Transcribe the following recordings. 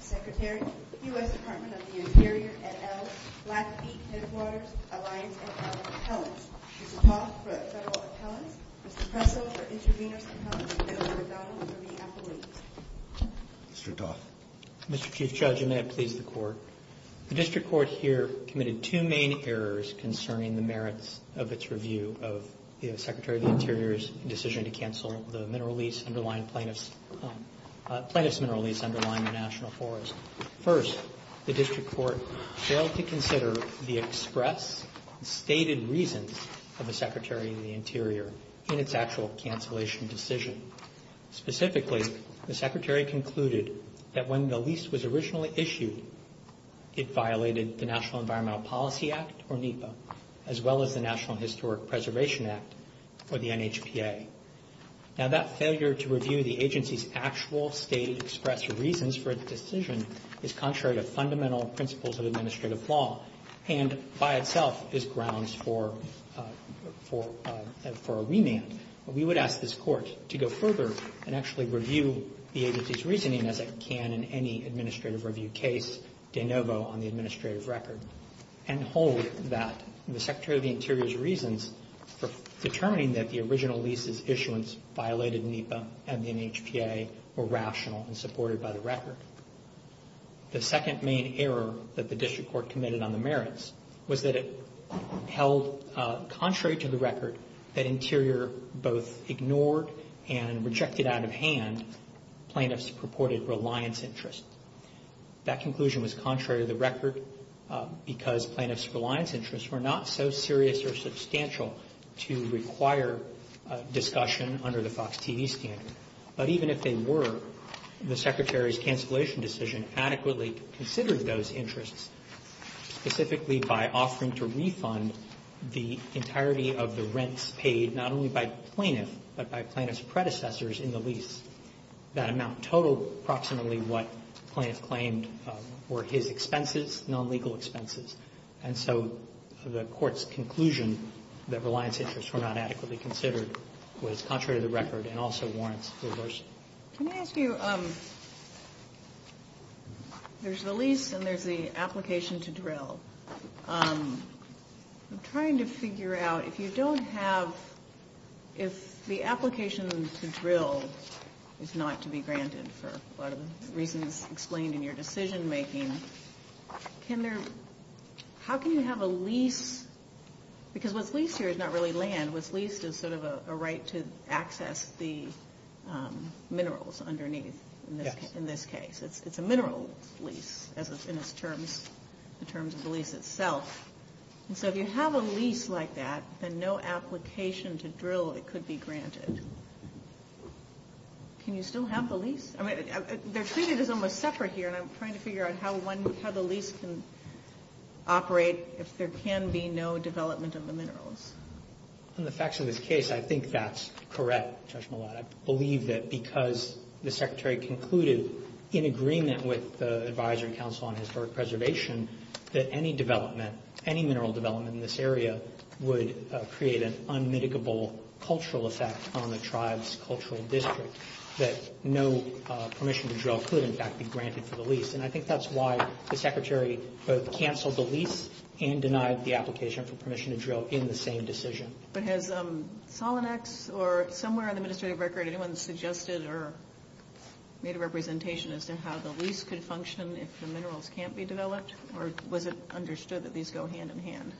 Secretary, U.S. Department of the Interior, et al., Blackfeet Headwaters Alliance, et al. Appellants, Mr. Toth for federal appellants, Mr. Presso for intravenous appellants, and Mr. O'Donnell for re-appellate. Mr. Toth. Mr. Chief Judge, and may it please the Court. The District Court here committed two main errors concerning the merits of its review of the Secretary of the Interior's decision to cancel the mineral lease underlying plaintiff's mineral lease underlying the National Forest. First, the District Court failed to consider the express and stated reasons of the Secretary of the Interior in its actual cancellation decision. Secondly, specifically, the Secretary concluded that when the lease was originally issued, it violated the National Environmental Policy Act, or NEPA, as well as the National Historic Preservation Act, or the NHPA. Now, that failure to review the agency's actual state express reasons for its decision is contrary to fundamental principles of administrative law, and by itself is grounds for a remand. We would ask this Court to go further and actually review the agency's reasoning, as it can in any administrative review case, de novo on the administrative record, and hold that the Secretary of the Interior's reasons for determining that the original lease's issuance violated NEPA and the NHPA were rational and supported by the record. The second main error that the District Court committed on the merits was that it held, contrary to the record, that Interior both ignored and rejected out of hand plaintiffs' purported reliance interests. That conclusion was contrary to the record because plaintiffs' reliance interests were not so serious or substantial to require discussion under the FOX TV standard. But even if they were, the Secretary's cancellation decision adequately considered those interests, specifically by offering to refund the entirety of the rents paid not only by plaintiffs but by plaintiffs' predecessors in the lease. That amount totaled approximately what plaintiffs claimed were his expenses, nonlegal expenses. And so the Court's conclusion that reliance interests were not adequately considered was contrary to the record and also warrants reversal. Can I ask you, there's the lease and there's the application to drill. I'm trying to figure out if you don't have, if the application to drill is not to be granted for a lot of the reasons explained in your decision making, can there, how can you have a lease, because what's leased here is not really land. What's leased is sort of a right to access the minerals underneath in this case. It's a mineral lease in terms of the lease itself. And so if you have a lease like that, then no application to drill, it could be granted. Can you still have the lease? They're treated as almost separate here, and I'm trying to figure out how the lease can operate if there can be no development of the minerals. In the facts of this case, I think that's correct, Judge Mallott. I believe that because the Secretary concluded in agreement with the Advisory Council on Historic Preservation that any development, any mineral development in this area would create an unmitigable cultural effect on the tribe's cultural district, that no permission to drill could, in fact, be granted for the lease. And I think that's why the Secretary both canceled the lease and denied the application for permission to drill in the same decision. But has Solonex or somewhere on the administrative record anyone suggested or made a representation as to how the lease could function if the minerals can't be developed? Or was it understood that these go hand in hand?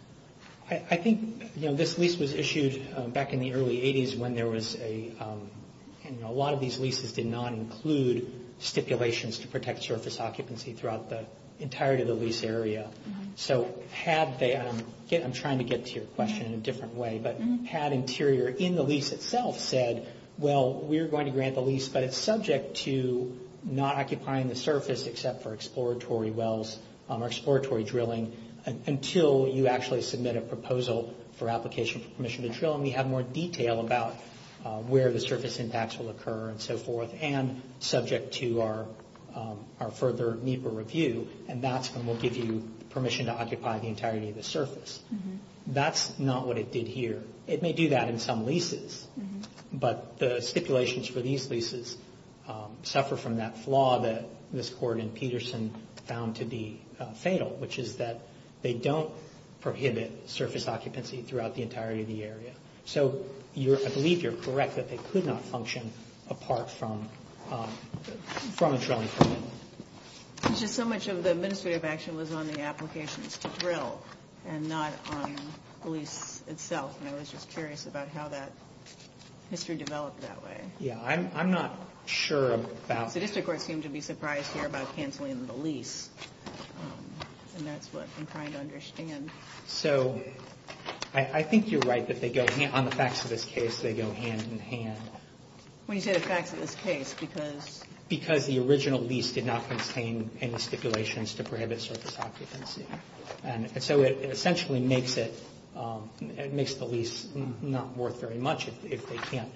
I think this lease was issued back in the early 80s when there was a, and a lot of these leases did not include stipulations to protect surface occupancy throughout the entirety of the lease area. So had they, I'm trying to get to your question in a different way, but had Interior in the lease itself said, well, we're going to grant the lease but it's subject to not occupying the surface except for exploratory wells or exploratory drilling until you actually submit a proposal for application for permission to drill and we have more detail about where the surface impacts will occur and so forth and subject to our further NEPA review. And that's when we'll give you permission to occupy the entirety of the surface. That's not what it did here. It may do that in some leases. But the stipulations for these leases suffer from that flaw that Ms. Gordon-Peterson found to be fatal, which is that they don't prohibit surface occupancy throughout the entirety of the area. So I believe you're correct that they could not function apart from a drilling permit. There's just so much of the administrative action was on the applications to drill and not on the lease itself. And I was just curious about how that history developed that way. Yeah, I'm not sure about... The district court seemed to be surprised here about canceling the lease. And that's what I'm trying to understand. So I think you're right that they go, on the facts of this case, they go hand in hand. When you say the facts of this case, because... It did not contain any stipulations to prohibit surface occupancy. And so it essentially makes it... It makes the lease not worth very much if they can't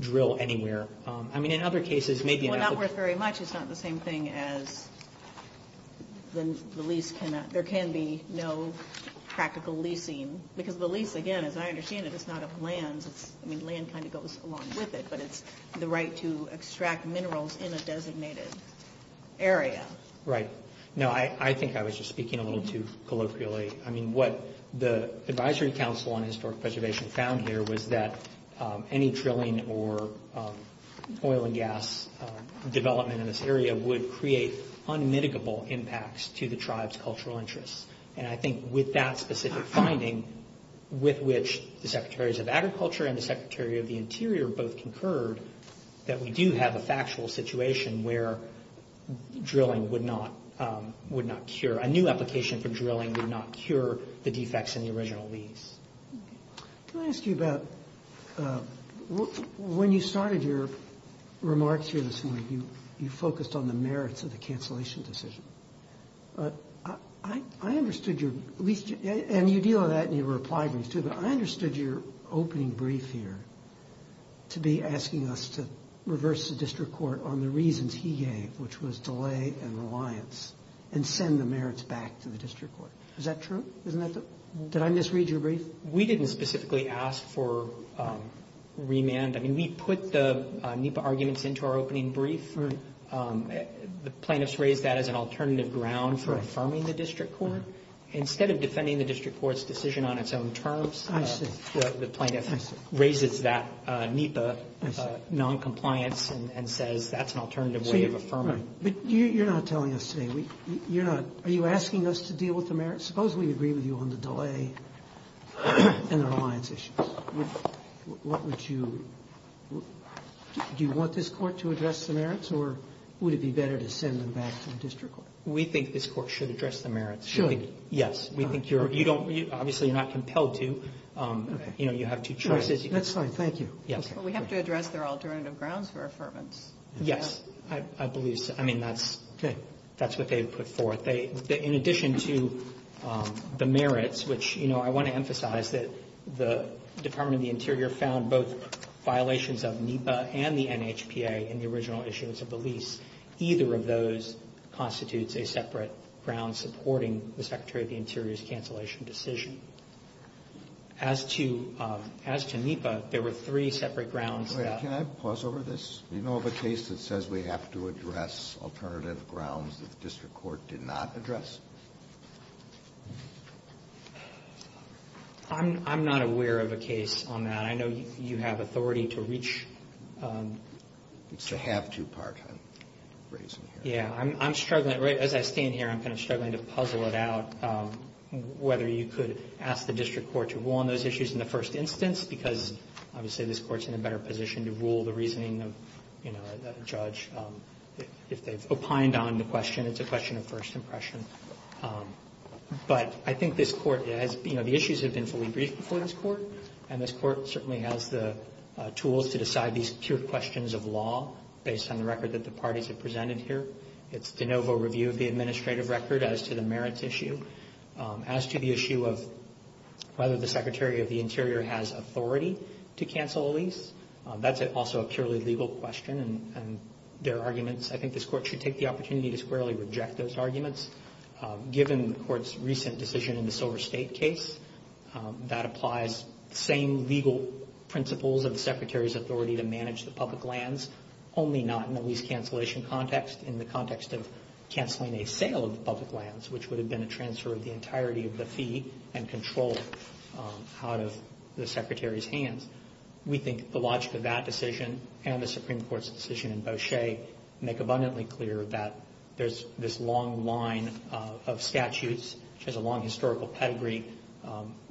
drill anywhere. I mean, in other cases, maybe... Well, not worth very much. It's not the same thing as... The lease cannot... There can be no practical leasing. Because the lease, again, as I understand it, it's not a plan. I mean, land kind of goes along with it. But it's the right to extract minerals in a designated area. Right. No, I think I was just speaking a little too colloquially. I mean, what the Advisory Council on Historic Preservation found here was that any drilling or oil and gas development in this area would create unmitigable impacts to the tribe's cultural interests. And I think with that specific finding, with which the Secretaries of Agriculture and the Secretary of the Interior both concurred, that we do have a factual situation where drilling would not cure... A new application for drilling would not cure the defects in the original lease. Can I ask you about... When you started your remarks here this morning, you focused on the merits of the cancellation decision. I understood your... And you deal with that in your reply brief, too. But I understood your opening brief here to be asking us to reverse the district court on the reasons he gave, which was delay and reliance, and send the merits back to the district court. Is that true? Isn't that the... Did I misread your brief? We didn't specifically ask for remand. I mean, we put the NEPA arguments into our opening brief. The plaintiffs raised that as an alternative ground for affirming the district court. Instead of defending the district court's decision on its own terms, the plaintiff raises that NEPA noncompliance and says that's an alternative way of affirming it. But you're not telling us today. Are you asking us to deal with the merits? Suppose we agree with you on the delay and the reliance issues. What would you... Do you want this court to address the merits, or would it be better to send them back to the district court? We think this court should address the merits. Should? Yes. We think you're... Obviously, you're not compelled to. You have two choices. That's fine. Thank you. Well, we have to address their alternative grounds for affirmance. Yes. I believe so. I mean, that's what they would put forth. In addition to the merits, which I want to emphasize that the Department of the Interior found both violations of NEPA and the NHPA in the original issues of the lease, either of those constitutes a separate ground supporting the Secretary of the Interior's cancellation decision. As to NEPA, there were three separate grounds that... Wait. Can I pause over this? Do you know of a case that says we have to address alternative grounds that the district court did not address? I'm not aware of a case on that. I know you have authority to reach... It's a have-to part. Yeah. I'm struggling. As I stand here, I'm kind of struggling to puzzle it out whether you could ask the district court to rule on those issues in the first instance because, obviously, this court's in a better position to rule the reasoning of the judge. If they've opined on the question, it's a question of first impression. But I think this court has... And this court certainly has the tools to decide these pure questions of law based on the record that the parties have presented here. It's de novo review of the administrative record as to the merits issue. As to the issue of whether the Secretary of the Interior has authority to cancel a lease, that's also a purely legal question, and there are arguments. I think this court should take the opportunity to squarely reject those arguments. Given the court's recent decision in the Silver State case, that applies the same legal principles of the Secretary's authority to manage the public lands, only not in the lease cancellation context, in the context of canceling a sale of the public lands, which would have been a transfer of the entirety of the fee and control out of the Secretary's hands. We think the logic of that decision and the Supreme Court's decision in Beauchesque make abundantly clear that there's this long line of statutes, which has a long historical pedigree,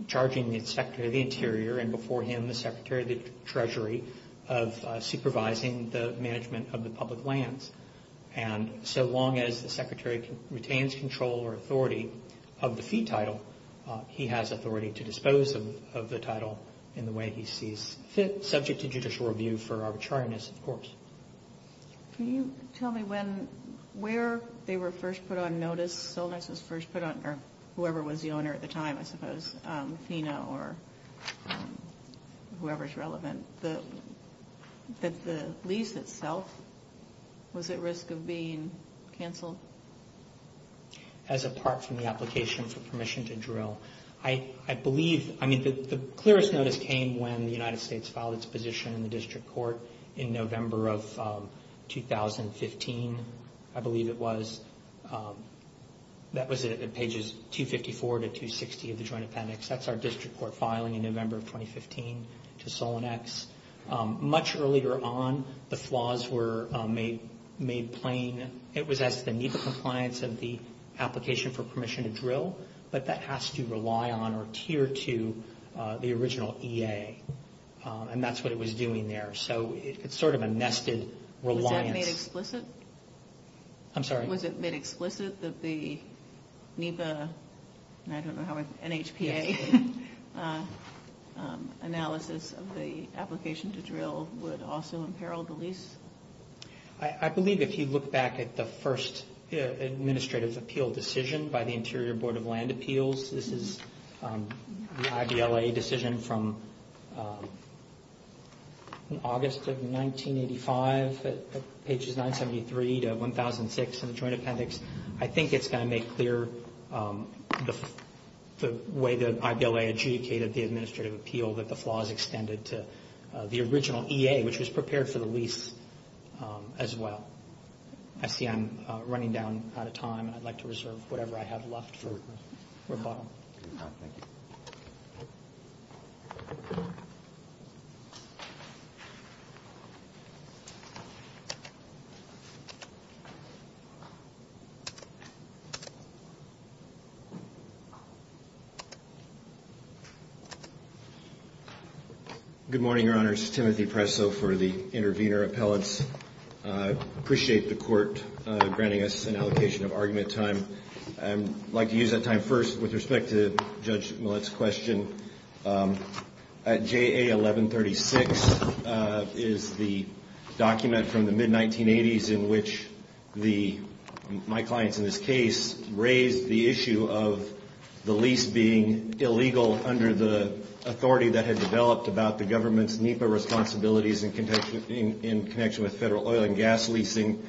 charging the Secretary of the Interior, and before him the Secretary of the Treasury, of supervising the management of the public lands. And so long as the Secretary retains control or authority of the fee title, he has authority to dispose of the title in the way he sees fit, subject to judicial review for arbitrariness, of course. Can you tell me when, where they were first put on notice, Solonix was first put on notice, or whoever was the owner at the time, I suppose, Fino or whoever's relevant, that the lease itself was at risk of being canceled? I believe, I mean, the clearest notice came when the United States filed its position in the district court in November of 2015, I believe it was. That was at pages 254 to 260 of the Joint Appendix. That's our district court filing in November of 2015 to Solonix. Much earlier on, the flaws were made plain. It was as the NEPA compliance of the application for permission to drill, but that has to rely on or tier to the original EA. And that's what it was doing there. So it's sort of a nested reliance. Was that made explicit? I'm sorry? Was it made explicit that the NEPA, and I don't know how NHPA, analysis of the application to drill would also imperil the lease? I believe if you look back at the first administrative appeal decision by the Interior Board of Land Appeals, this is the IBLA decision from August of 1985 at pages 973 to 1006 in the Joint Appendix. I think it's going to make clear the way that IBLA adjudicated the administrative appeal that the flaws extended to the original EA, which was prepared for the lease as well. I see I'm running down out of time, and I'd like to reserve whatever I have left for Bob. Thank you. Good morning, Your Honor. This is Timothy Presso for the Intervenor Appellates. I appreciate the Court granting us an allocation of argument time. I'd like to use that time first with respect to Judge Millett's question. JA 1136 is the document from the mid-1980s in which my clients in this case raised the issue of the lease being illegal under the authority that had developed about the government's NEPA responsibilities in connection with federal oil and gas leasing.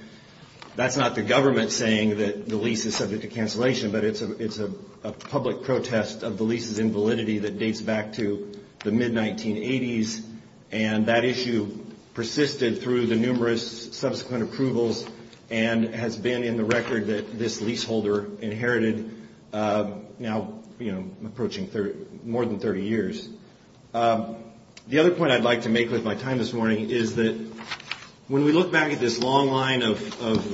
That's not the government saying that the lease is subject to cancellation, but it's a public protest of the lease's invalidity that dates back to the mid-1980s, and that issue persisted through the numerous subsequent approvals and has been in the record that this leaseholder inherited now approaching more than 30 years. The other point I'd like to make with my time this morning is that when we look back at this long line of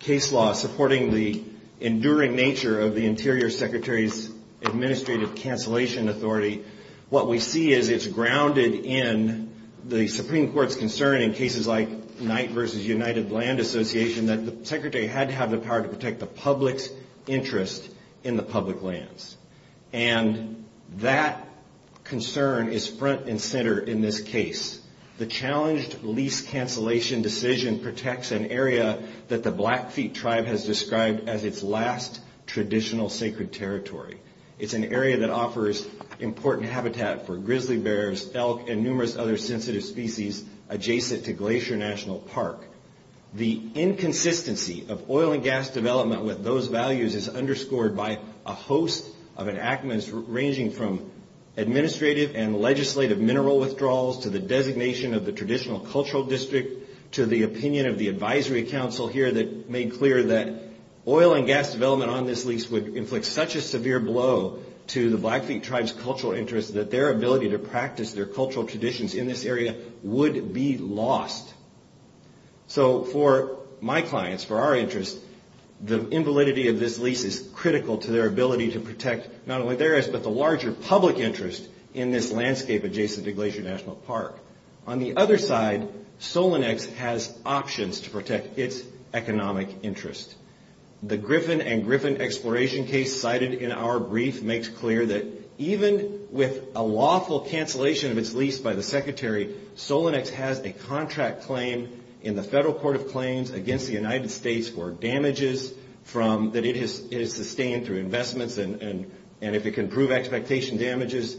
case law supporting the enduring nature of the Interior Secretary's administrative cancellation authority, what we see is it's grounded in the Supreme Court's concern in cases like Knight v. United Land Association that the Secretary had to have the power to protect the public's interest in the public lands. And that concern is front and center in this case. The challenged lease cancellation decision protects an area that the Blackfeet tribe has described as its last traditional sacred territory. It's an area that offers important habitat for grizzly bears, elk, and numerous other sensitive species adjacent to Glacier National Park. The inconsistency of oil and gas development with those values is underscored by a host of enactments ranging from administrative and legislative mineral withdrawals to the designation of the traditional cultural district to the opinion of the advisory council here that made clear that oil and gas development on this lease would inflict such a severe blow to the Blackfeet tribe's cultural interest that their ability to practice their cultural traditions in this area would be lost. So for my clients, for our interest, the invalidity of this lease is critical to their ability to protect not only theirs but the larger public interest in this landscape adjacent to Glacier National Park. On the other side, Solonex has options to protect its economic interest. The Griffin and Griffin exploration case cited in our brief makes clear that even with a lawful cancellation of its lease by the secretary, Solonex has a contract claim in the federal court of claims against the United States for damages that it has sustained through investments and if it can prove expectation damages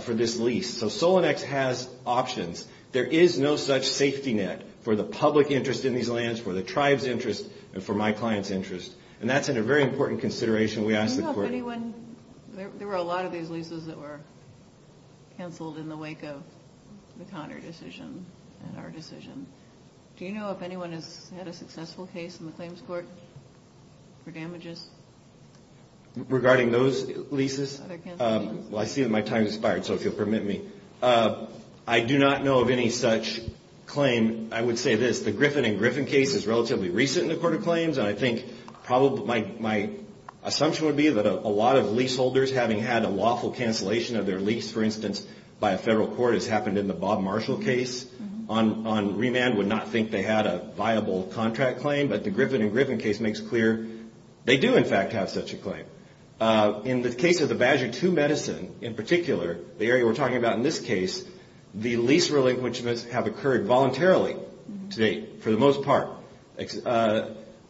for this lease. So Solonex has options. There is no such safety net for the public interest in these lands, for the tribe's interest, and for my client's interest, and that's a very important consideration we ask the court. There were a lot of these leases that were canceled in the wake of the Conner decision and our decision. Do you know if anyone has had a successful case in the claims court for damages? Regarding those leases? Well, I see that my time has expired, so if you'll permit me. I do not know of any such claim. I would say this. The Griffin and Griffin case is relatively recent in the court of claims, and I think my assumption would be that a lot of leaseholders having had a lawful cancellation of their lease, for instance, by a federal court, as happened in the Bob Marshall case on remand, would not think they had a viable contract claim, but the Griffin and Griffin case makes clear they do, in fact, have such a claim. In the case of the Badger II medicine, in particular, the area we're talking about in this case, the lease relinquishments have occurred voluntarily to date, for the most part.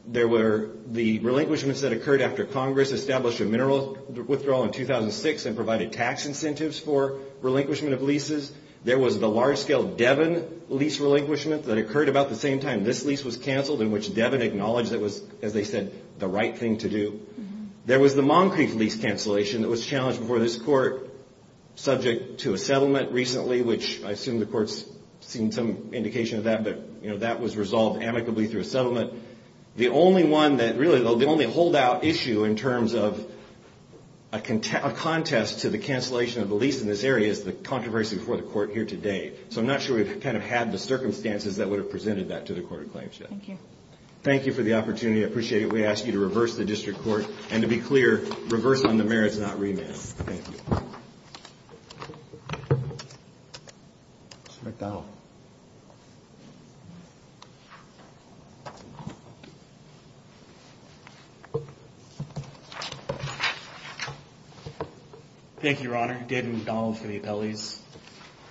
There were the relinquishments that occurred after Congress established a mineral withdrawal in 2006 and provided tax incentives for relinquishment of leases. There was the large-scale Devon lease relinquishment that occurred about the same time this lease was canceled, in which Devon acknowledged that was, as they said, the right thing to do. There was the Moncrief lease cancellation that was challenged before this court, subject to a settlement recently, which I assume the court's seen some indication of that, but that was resolved amicably through a settlement. The only one that really, the only holdout issue in terms of a contest to the cancellation of the lease in this area is the controversy before the court here today. So I'm not sure we've kind of had the circumstances that would have presented that to the court of claims yet. Thank you. Thank you for the opportunity. I appreciate it. We ask you to reverse the district court, and to be clear, reverse on the merits, not remand. Thank you. Mr. McDonald. Thank you, Your Honor. David McDonald for the appellees.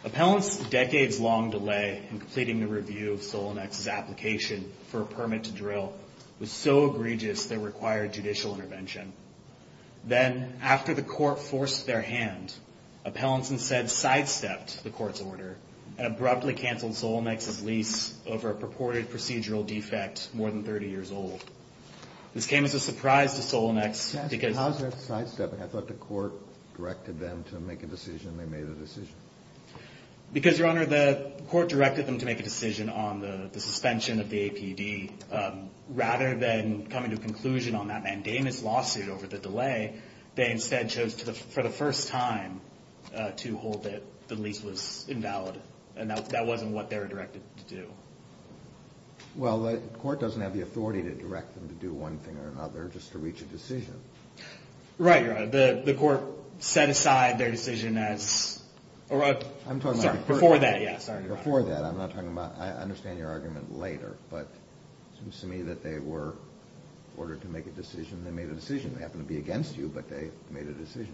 Appellants' decades-long delay in completing the review of Solonix's application for a permit to drill was so egregious that it required judicial intervention. Then, after the court forced their hand, appellants instead sidestepped the court's order and abruptly canceled Solonix's lease over a purported procedural defect more than 30 years old. This came as a surprise to Solonix because How is that sidestepping? I thought the court directed them to make a decision, and they made a decision. Because, Your Honor, the court directed them to make a decision on the suspension of the APD. Rather than coming to a conclusion on that mandamus lawsuit over the delay, they instead chose for the first time to hold that the lease was invalid, and that wasn't what they were directed to do. Well, the court doesn't have the authority to direct them to do one thing or another just to reach a decision. Right, Your Honor. The court set aside their decision as I'm talking about the court. Before that, yes. Before that. I'm not talking about, I understand your argument later, but it seems to me that they were ordered to make a decision, and they made a decision. They happened to be against you, but they made a decision.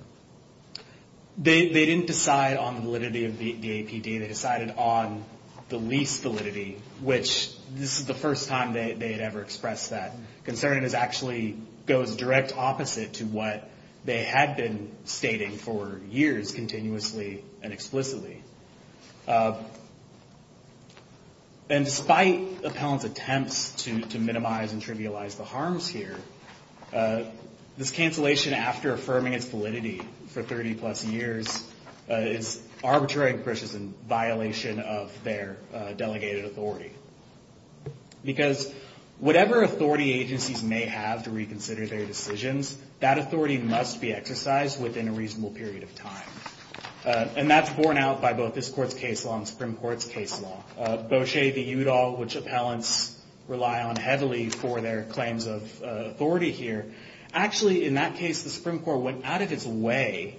They didn't decide on the validity of the APD. They decided on the lease validity, which this is the first time they had ever expressed that concern. It actually goes direct opposite to what they had been stating for years continuously and explicitly. And despite appellant's attempts to minimize and trivialize the harms here, this cancellation after affirming its validity for 30 plus years is arbitrary and precious in violation of their delegated authority. Because whatever authority agencies may have to reconsider their decisions, that authority must be exercised within a reasonable period of time. And that's borne out by both this court's case law and Supreme Court's case law. Bocce v. Udall, which appellants rely on heavily for their claims of authority here, actually, in that case, the Supreme Court went out of its way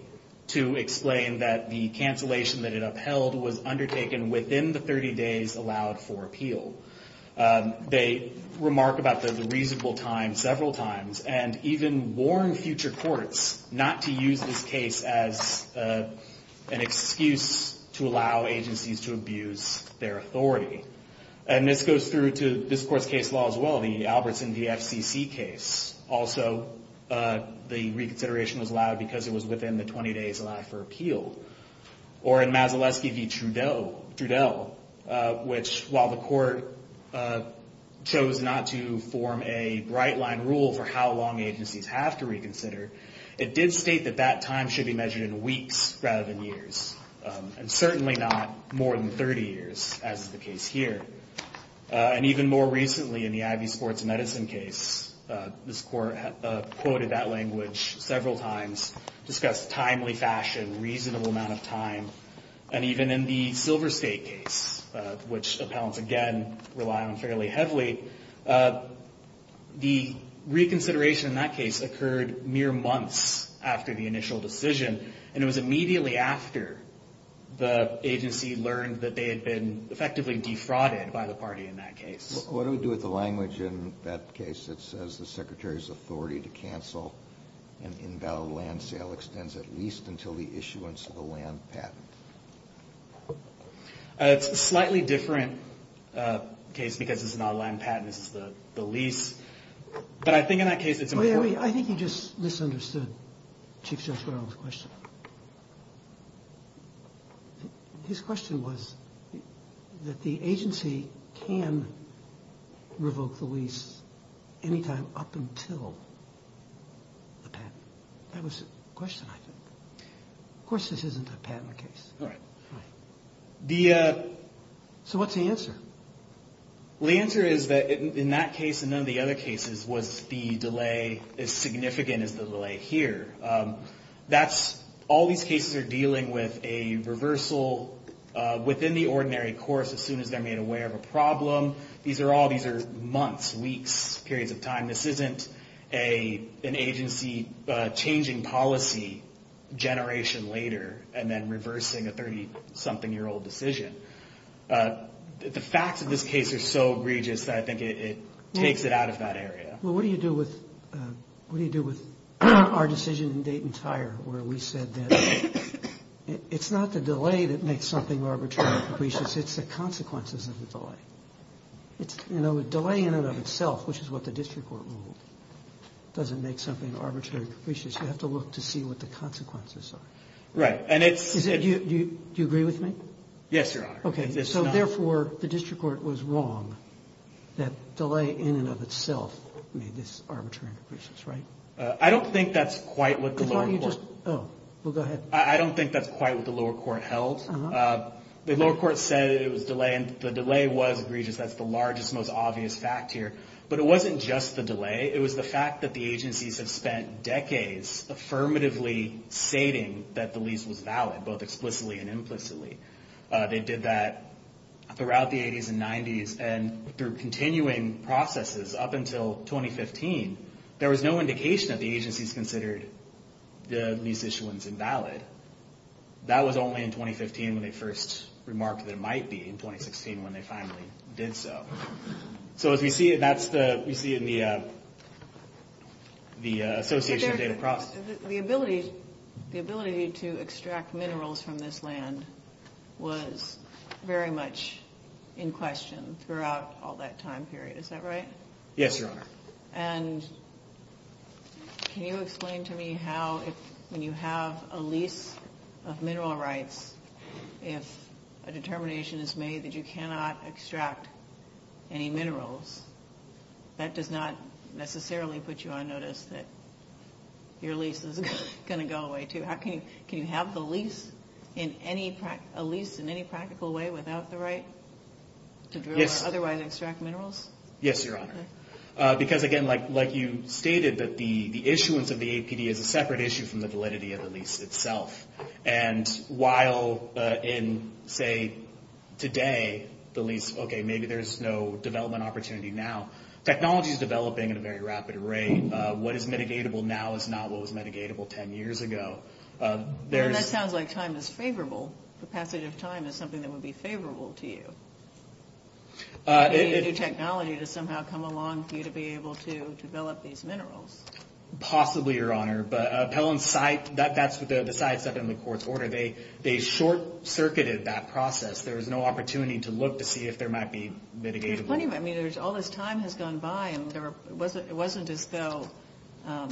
to explain that the cancellation that it upheld was undertaken within the 30 days allowed for appeal. They remark about the reasonable time several times, and even warn future courts not to use this case as an excuse to allow agencies to abuse their authority. And this goes through to this court's case law as well, the Albertson v. FCC case. Also, the reconsideration was allowed because it was within the 20 days allowed for appeal. Or in Mazaletsky v. Trudeau, which while the court chose not to form a bright line rule for how long agencies have to reconsider, it did state that that time should be measured in weeks rather than years. And certainly not more than 30 years, as is the case here. And even more recently in the Ivy Sports Medicine case, this court quoted that language several times, discussed timely fashion, reasonable amount of time. And even in the Silver State case, which appellants, again, rely on fairly heavily, the reconsideration in that case occurred mere months after the initial decision. And it was immediately after the agency learned that they had been effectively defrauded by the party in that case. What do we do with the language in that case that says the secretary's authority to cancel an invalid land sale extends at least until the issuance of a land patent? It's a slightly different case because it's not a land patent. This is the lease. But I think in that case it's important. I think you just misunderstood Chief Judge Rowell's question. His question was that the agency can revoke the lease any time up until the patent. That was the question, I think. Of course, this isn't a patent case. All right. So what's the answer? The answer is that in that case and none of the other cases was the delay as significant as the delay here. All these cases are dealing with a reversal within the ordinary course as soon as they're made aware of a problem. These are all months, weeks, periods of time. This isn't an agency changing policy generation later and then reversing a 30-something-year-old decision. The facts of this case are so egregious that I think it takes it out of that area. Well, what do you do with our decision in Dayton Tire where we said that it's not the delay that makes something arbitrary and capricious. It's the consequences of the delay. A delay in and of itself, which is what the district court ruled, doesn't make something arbitrary and capricious. You have to look to see what the consequences are. Right. Do you agree with me? Yes, Your Honor. Okay. So therefore, the district court was wrong that delay in and of itself made this arbitrary and capricious, right? I don't think that's quite what the lower court. Oh, well, go ahead. I don't think that's quite what the lower court held. The lower court said it was delay and the delay was egregious. That's the largest, most obvious fact here. But it wasn't just the delay. It was the fact that the agencies have spent decades affirmatively stating that the lease was valid, both explicitly and implicitly. They did that throughout the 80s and 90s and through continuing processes up until 2015. There was no indication that the agencies considered the lease issuance invalid. That was only in 2015 when they first remarked that it might be in 2016 when they finally did so. So as we see, that's what we see in the association of David Cross. The ability to extract minerals from this land was very much in question throughout all that time period. Is that right? Yes, Your Honor. And can you explain to me how when you have a lease of mineral rights, if a determination is made that you cannot extract any minerals, that does not necessarily put you on notice that your lease is going to go away, too. Can you have the lease in any practical way without the right to drill or otherwise extract minerals? Yes, Your Honor. Because, again, like you stated, the issuance of the APD is a separate issue from the validity of the lease itself. And while in, say, today, the lease, okay, maybe there's no development opportunity now, technology is developing at a very rapid rate. What is mitigatable now is not what was mitigatable 10 years ago. That sounds like time is favorable. The passage of time is something that would be favorable to you. You need a new technology to somehow come along for you to be able to develop these minerals. Possibly, Your Honor. But Appellant's site, that's the sidestep in the court's order. They short-circuited that process. There was no opportunity to look to see if there might be mitigatable. There's plenty of it. I mean, all this time has gone by, and it wasn't as though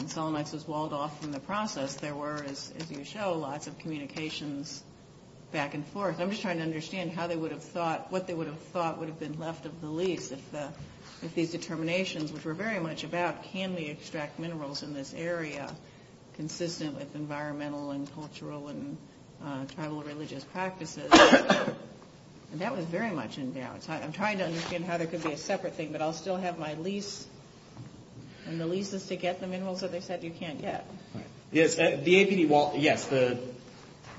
Solomites was walled off from the process. There were, as you show, lots of communications back and forth. I'm just trying to understand how they would have thought, what they would have thought would have been left of the lease if these determinations, which were very much about can we extract minerals in this area consistent with environmental and cultural and tribal religious practices. And that was very much in doubt. I'm trying to understand how there could be a separate thing, but I'll still have my lease, and the lease is to get the minerals that they said you can't get. Yes, the APD wall, yes,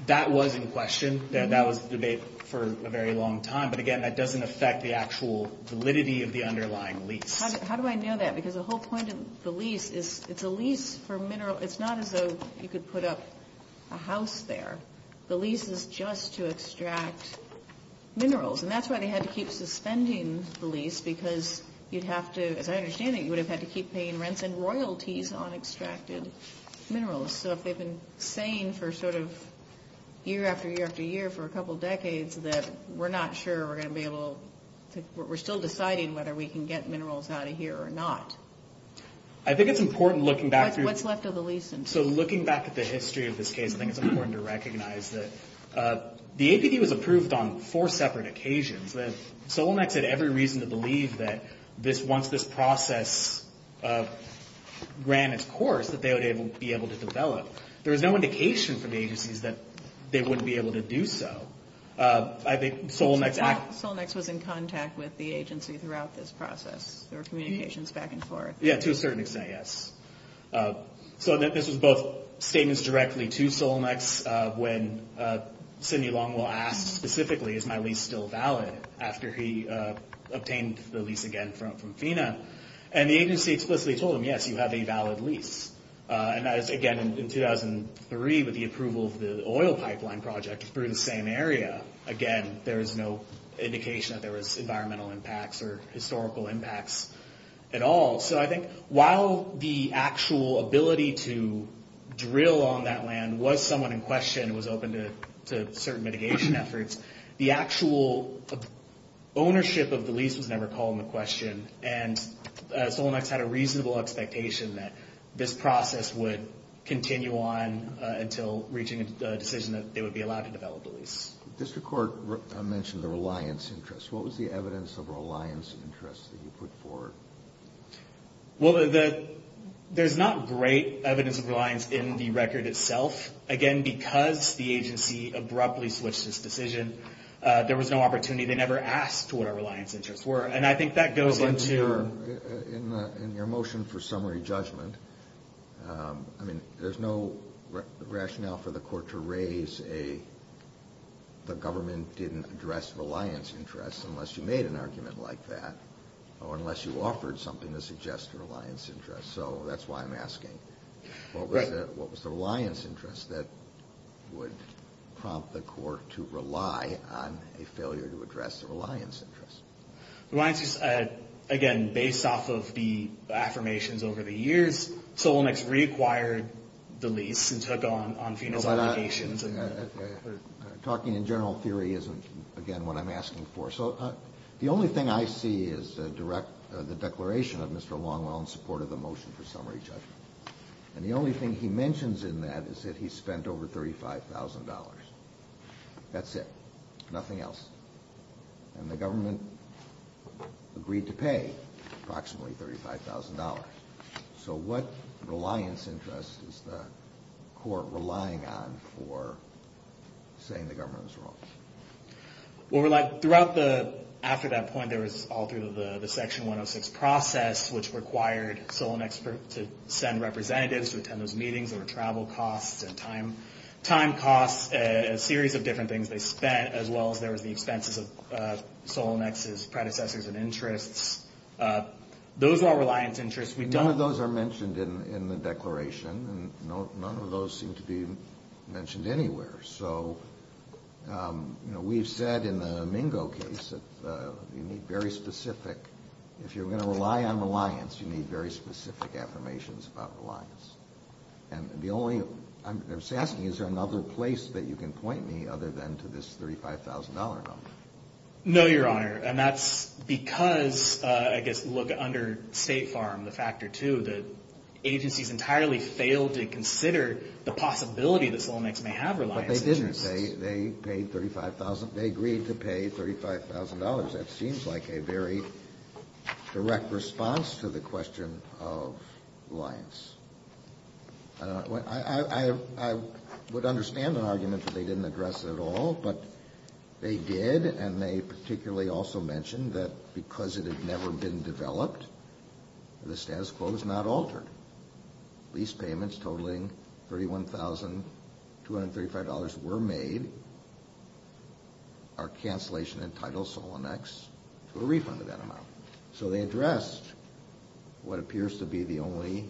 that was in question. That was the debate for a very long time. But again, that doesn't affect the actual validity of the underlying lease. How do I know that? Because the whole point of the lease is it's a lease for mineral. It's not as though you could put up a house there. The lease is just to extract minerals. And that's why they had to keep suspending the lease because you'd have to, as I understand it, you would have had to keep paying rents and royalties on extracted minerals. So if they've been saying for sort of year after year after year for a couple decades that we're not sure we're going to be able to, we're still deciding whether we can get minerals out of here or not. I think it's important looking back through. What's left of the lease. So looking back at the history of this case, I think it's important to recognize that the APD was approved on four separate occasions. Solnex had every reason to believe that once this process ran its course that they would be able to develop. There was no indication from the agencies that they wouldn't be able to do so. Solnex was in contact with the agency throughout this process. There were communications back and forth. Yeah, to a certain extent, yes. So this was both statements directly to Solnex when Sidney Longwell asked specifically, is my lease still valid after he obtained the lease again from FINA? And the agency explicitly told him, yes, you have a valid lease. And that is, again, in 2003 with the approval of the oil pipeline project for the same area. Again, there was no indication that there was environmental impacts or historical impacts at all. So I think while the actual ability to drill on that land was somewhat in question, it was open to certain mitigation efforts, the actual ownership of the lease was never called into question. And Solnex had a reasonable expectation that this process would continue on until reaching a decision that they would be allowed to develop the lease. District Court mentioned the reliance interest. What was the evidence of reliance interest that you put forward? Well, there's not great evidence of reliance in the record itself. Again, because the agency abruptly switched its decision, there was no opportunity. They never asked what our reliance interests were. And I think that goes into – In your motion for summary judgment, I mean, there's no rationale for the court to raise a the government didn't address reliance interest unless you made an argument like that or unless you offered something to suggest a reliance interest. So that's why I'm asking. What was the reliance interest that would prompt the court to rely on a failure to address the reliance interest? Reliance interest, again, based off of the affirmations over the years, Solnex reacquired the lease and took on FEMA's obligations. Talking in general theory isn't, again, what I'm asking for. So the only thing I see is the declaration of Mr. Longwell in support of the motion for summary judgment. And the only thing he mentions in that is that he spent over $35,000. That's it, nothing else. And the government agreed to pay approximately $35,000. So what reliance interest is the court relying on for saying the government was wrong? Well, throughout the, after that point, there was all through the Section 106 process, which required Solnex to send representatives to attend those meetings, there were travel costs and time costs, a series of different things they spent, as well as there was the expenses of Solnex's predecessors and interests. Those are all reliance interests. None of those are mentioned in the declaration, and none of those seem to be mentioned anywhere. So, you know, we've said in the Mingo case that you need very specific, if you're going to rely on reliance, you need very specific affirmations about reliance. And the only, I'm asking, is there another place that you can point me other than to this $35,000 number? No, Your Honor, and that's because, I guess, look, under State Farm, the Factor 2, the agencies entirely failed to consider the possibility that Solnex may have reliance interests. But they didn't. They paid $35,000. They agreed to pay $35,000. That seems like a very direct response to the question of reliance. I would understand an argument that they didn't address it at all, but they did, and they particularly also mentioned that because it had never been developed, the status quo was not altered. Lease payments totaling $31,235 were made. Our cancellation entitles Solnex to a refund of that amount. So they addressed what appears to be the only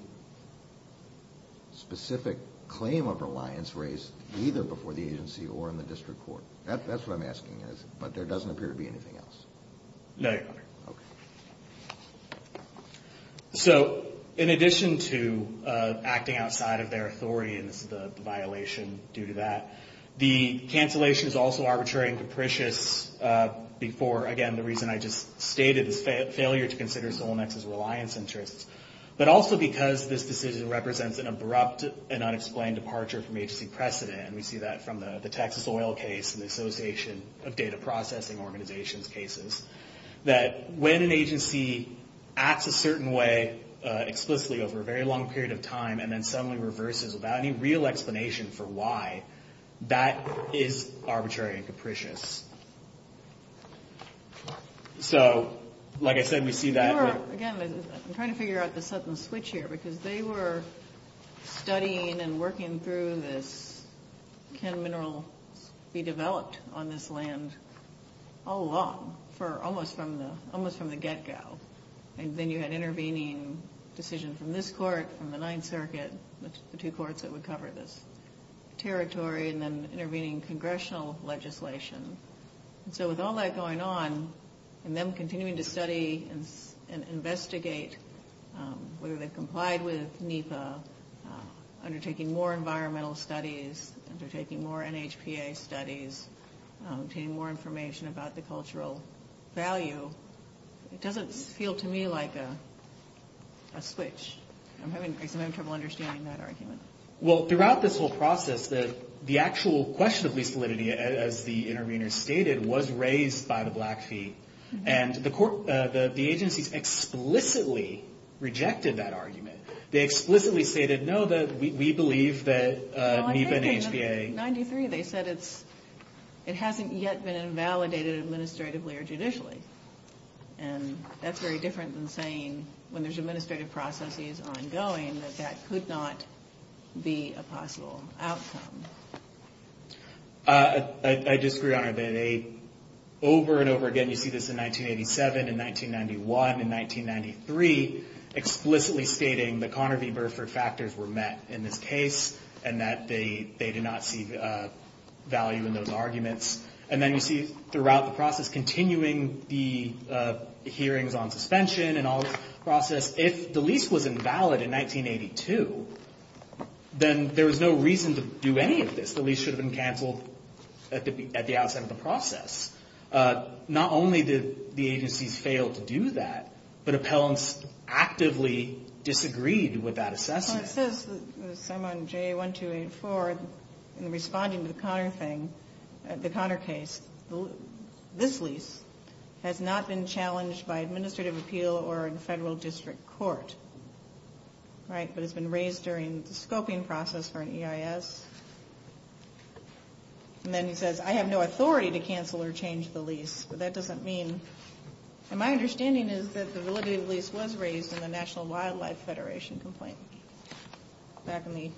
specific claim of reliance raised either before the agency or in the district court. That's what I'm asking, but there doesn't appear to be anything else. No, Your Honor. Okay. So in addition to acting outside of their authority, and this is the violation due to that, the cancellation is also arbitrary and capricious before, again, the reason I just stated is failure to consider Solnex's reliance interests, but also because this decision represents an abrupt and unexplained departure from agency precedent, and we see that from the Texas oil case and the Association of Data Processing Organizations cases, that when an agency acts a certain way explicitly over a very long period of time and then suddenly reverses without any real explanation for why, that is arbitrary and capricious. So, like I said, we see that. Your Honor, again, I'm trying to figure out the sudden switch here because they were studying and working through this can minerals be developed on this land all along, almost from the get-go, and then you had intervening decision from this court, from the Ninth Circuit, the two courts that would cover this territory, and then intervening congressional legislation. So with all that going on and them continuing to study and investigate whether they complied with NEPA undertaking more environmental studies, undertaking more NHPA studies, obtaining more information about the cultural value, it doesn't feel to me like a switch. I'm having trouble understanding that argument. Well, throughout this whole process, the actual question of lease validity, as the intervener stated, was raised by the Blackfeet, and the agencies explicitly rejected that argument. They explicitly stated, no, we believe that NEPA and NHPA. Well, in 1993, they said it hasn't yet been invalidated administratively or judicially, and that's very different than saying when there's administrative processes ongoing, that that could not be a possible outcome. I disagree, Your Honor. Over and over again, you see this in 1987, in 1991, in 1993, explicitly stating that Connor v. Burford factors were met in this case and that they did not see value in those arguments. And then you see throughout the process, continuing the hearings on suspension and all the process, if the lease was invalid in 1982, then there was no reason to do any of this. The lease should have been canceled at the outset of the process. Not only did the agencies fail to do that, but appellants actively disagreed with that assessment. Well, it says, Simon J. 1284, in responding to the Connor thing, the Connor case, this lease has not been challenged by administrative appeal or in federal district court, right, but has been raised during the scoping process for an EIS. And then he says, I have no authority to cancel or change the lease, but that doesn't mean... And my understanding is that the validity of the lease was raised in the National Wildlife Federation complaint back in the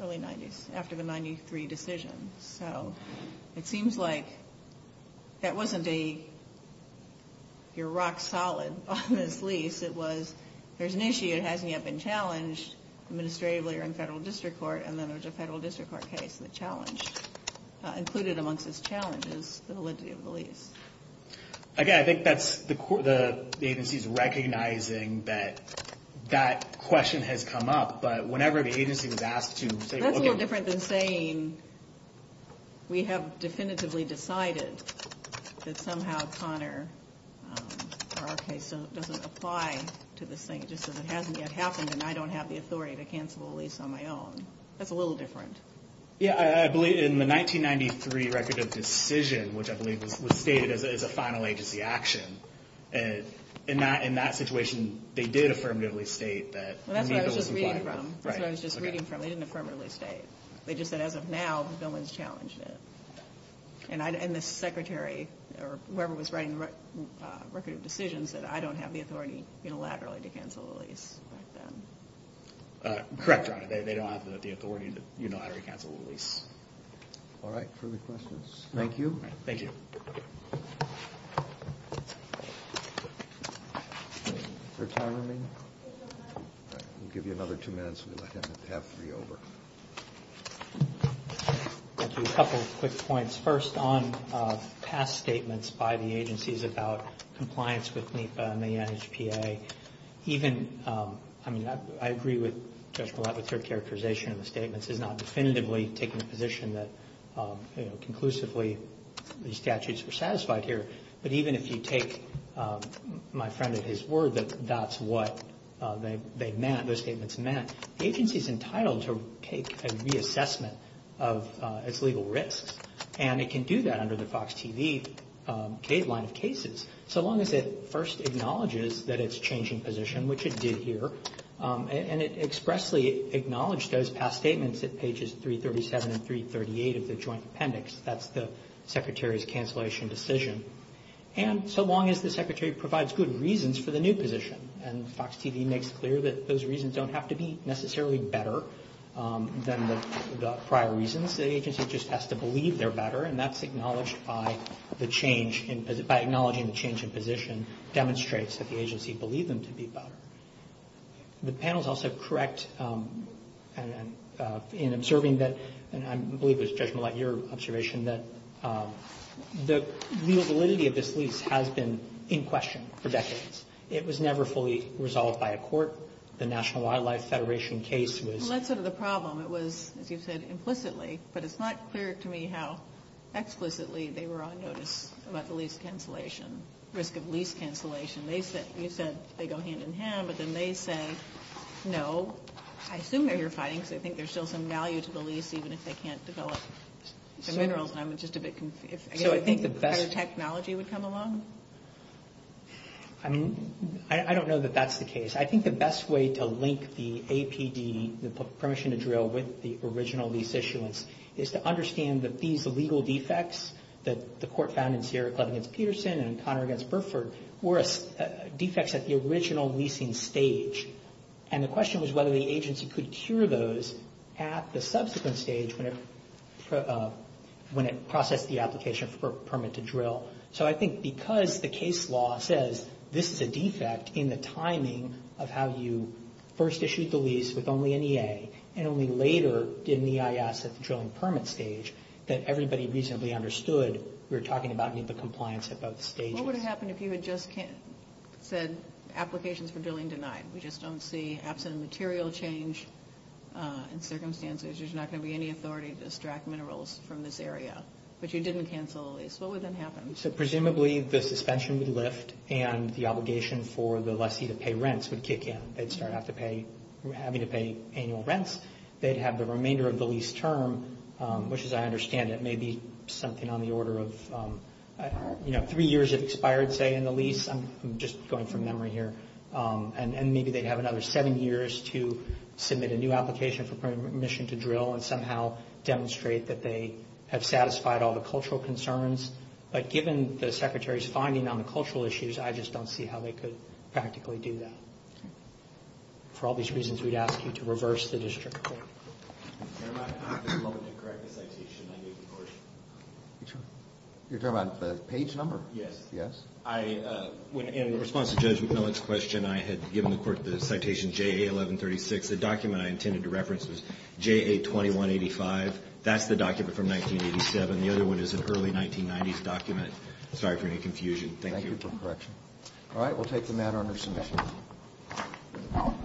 early 90s, after the 1993 decision. So it seems like that wasn't a, you're rock solid on this lease. It was, there's an issue, it hasn't yet been challenged administratively or in federal district court, and then there's a federal district court case that challenged, included amongst those challenges, the validity of the lease. Okay, I think that's, the agency's recognizing that that question has come up, but whenever the agency was asked to say... That's a little different than saying we have definitively decided that somehow Connor, our case doesn't apply to this thing just because it hasn't yet happened and I don't have the authority to cancel the lease on my own. That's a little different. Yeah, I believe in the 1993 record of decision, which I believe was stated as a final agency action, in that situation they did affirmatively state that... Well, that's what I was just reading from. Right. That's what I was just reading from. They didn't affirmatively state. They just said as of now, no one's challenged it. And the secretary, or whoever was writing the record of decisions, said I don't have the authority unilaterally to cancel the lease. Correct, Your Honor. They don't have the authority to unilaterally cancel the lease. All right, further questions? Thank you. Thank you. Is there time remaining? We'll give you another two minutes and we'll let him have three over. Thank you. A couple of quick points. First, on past statements by the agencies about compliance with NEPA and the NHPA, even, I mean, I agree with Judge Millett with her characterization of the statements. It's not definitively taking a position that, you know, conclusively these statutes were satisfied here. But even if you take my friend at his word that that's what they meant, those statements meant, the agency's entitled to take a reassessment of its legal risks, and it can do that under the FOX TV line of cases, so long as it first acknowledges that it's changing position, which it did here, and it expressly acknowledged those past statements at pages 337 and 338 of the joint appendix. That's the secretary's cancellation decision. And so long as the secretary provides good reasons for the new position, and FOX TV makes clear that those reasons don't have to be necessarily better than the prior reasons, the agency just has to believe they're better, and that's acknowledged by the change in position, by acknowledging the change in position demonstrates that the agency believed them to be better. The panel's also correct in observing that, and I believe it was Judge Millett, your observation, that the legal validity of this lease has been in question for decades. It was never fully resolved by a court. The National Wildlife Federation case was... Well, that's sort of the problem. It was, as you've said, implicitly, but it's not clear to me how explicitly they were on notice about the lease cancellation, risk of lease cancellation. You said they go hand-in-hand, but then they say no. I assume they're here fighting, because I think there's still some value to the lease, even if they can't develop the minerals, and I'm just a bit confused. So I think the best... Do you think better technology would come along? I don't know that that's the case. I think the best way to link the APD, the Permission to Drill, with the original lease issuance is to understand that these legal defects that the court found in Sierra Club against Peterson and Connor against Burford were defects at the original leasing stage, and the question was whether the agency could cure those at the subsequent stage when it processed the application for Permit to Drill. So I think because the case law says this is a defect in the timing of how you first issued the lease with only an EA and only later did an EIS at the drilling permit stage, that everybody reasonably understood we were talking about NEPA compliance at both stages. What would have happened if you had just said applications for drilling denied? We just don't see absent material change in circumstances. There's not going to be any authority to extract minerals from this area. But you didn't cancel the lease. What would then happen? So presumably the suspension would lift and the obligation for the lessee to pay rents would kick in. They'd start having to pay annual rents. They'd have the remainder of the lease term, which as I understand it, may be something on the order of three years have expired, say, in the lease. I'm just going from memory here. And maybe they'd have another seven years to submit a new application for Permission to Drill and somehow demonstrate that they have satisfied all the cultural concerns. But given the Secretary's finding on the cultural issues, I just don't see how they could practically do that. For all these reasons, we'd ask you to reverse the district court. You're talking about the page number? Yes. Yes? In response to Judge McMillan's question, I had given the court the citation JA1136. The document I intended to reference was JA2185. That's the document from 1987. The other one is an early 1990s document. Sorry for any confusion. Thank you. Thank you for correction. All right. We'll take the matter under submission.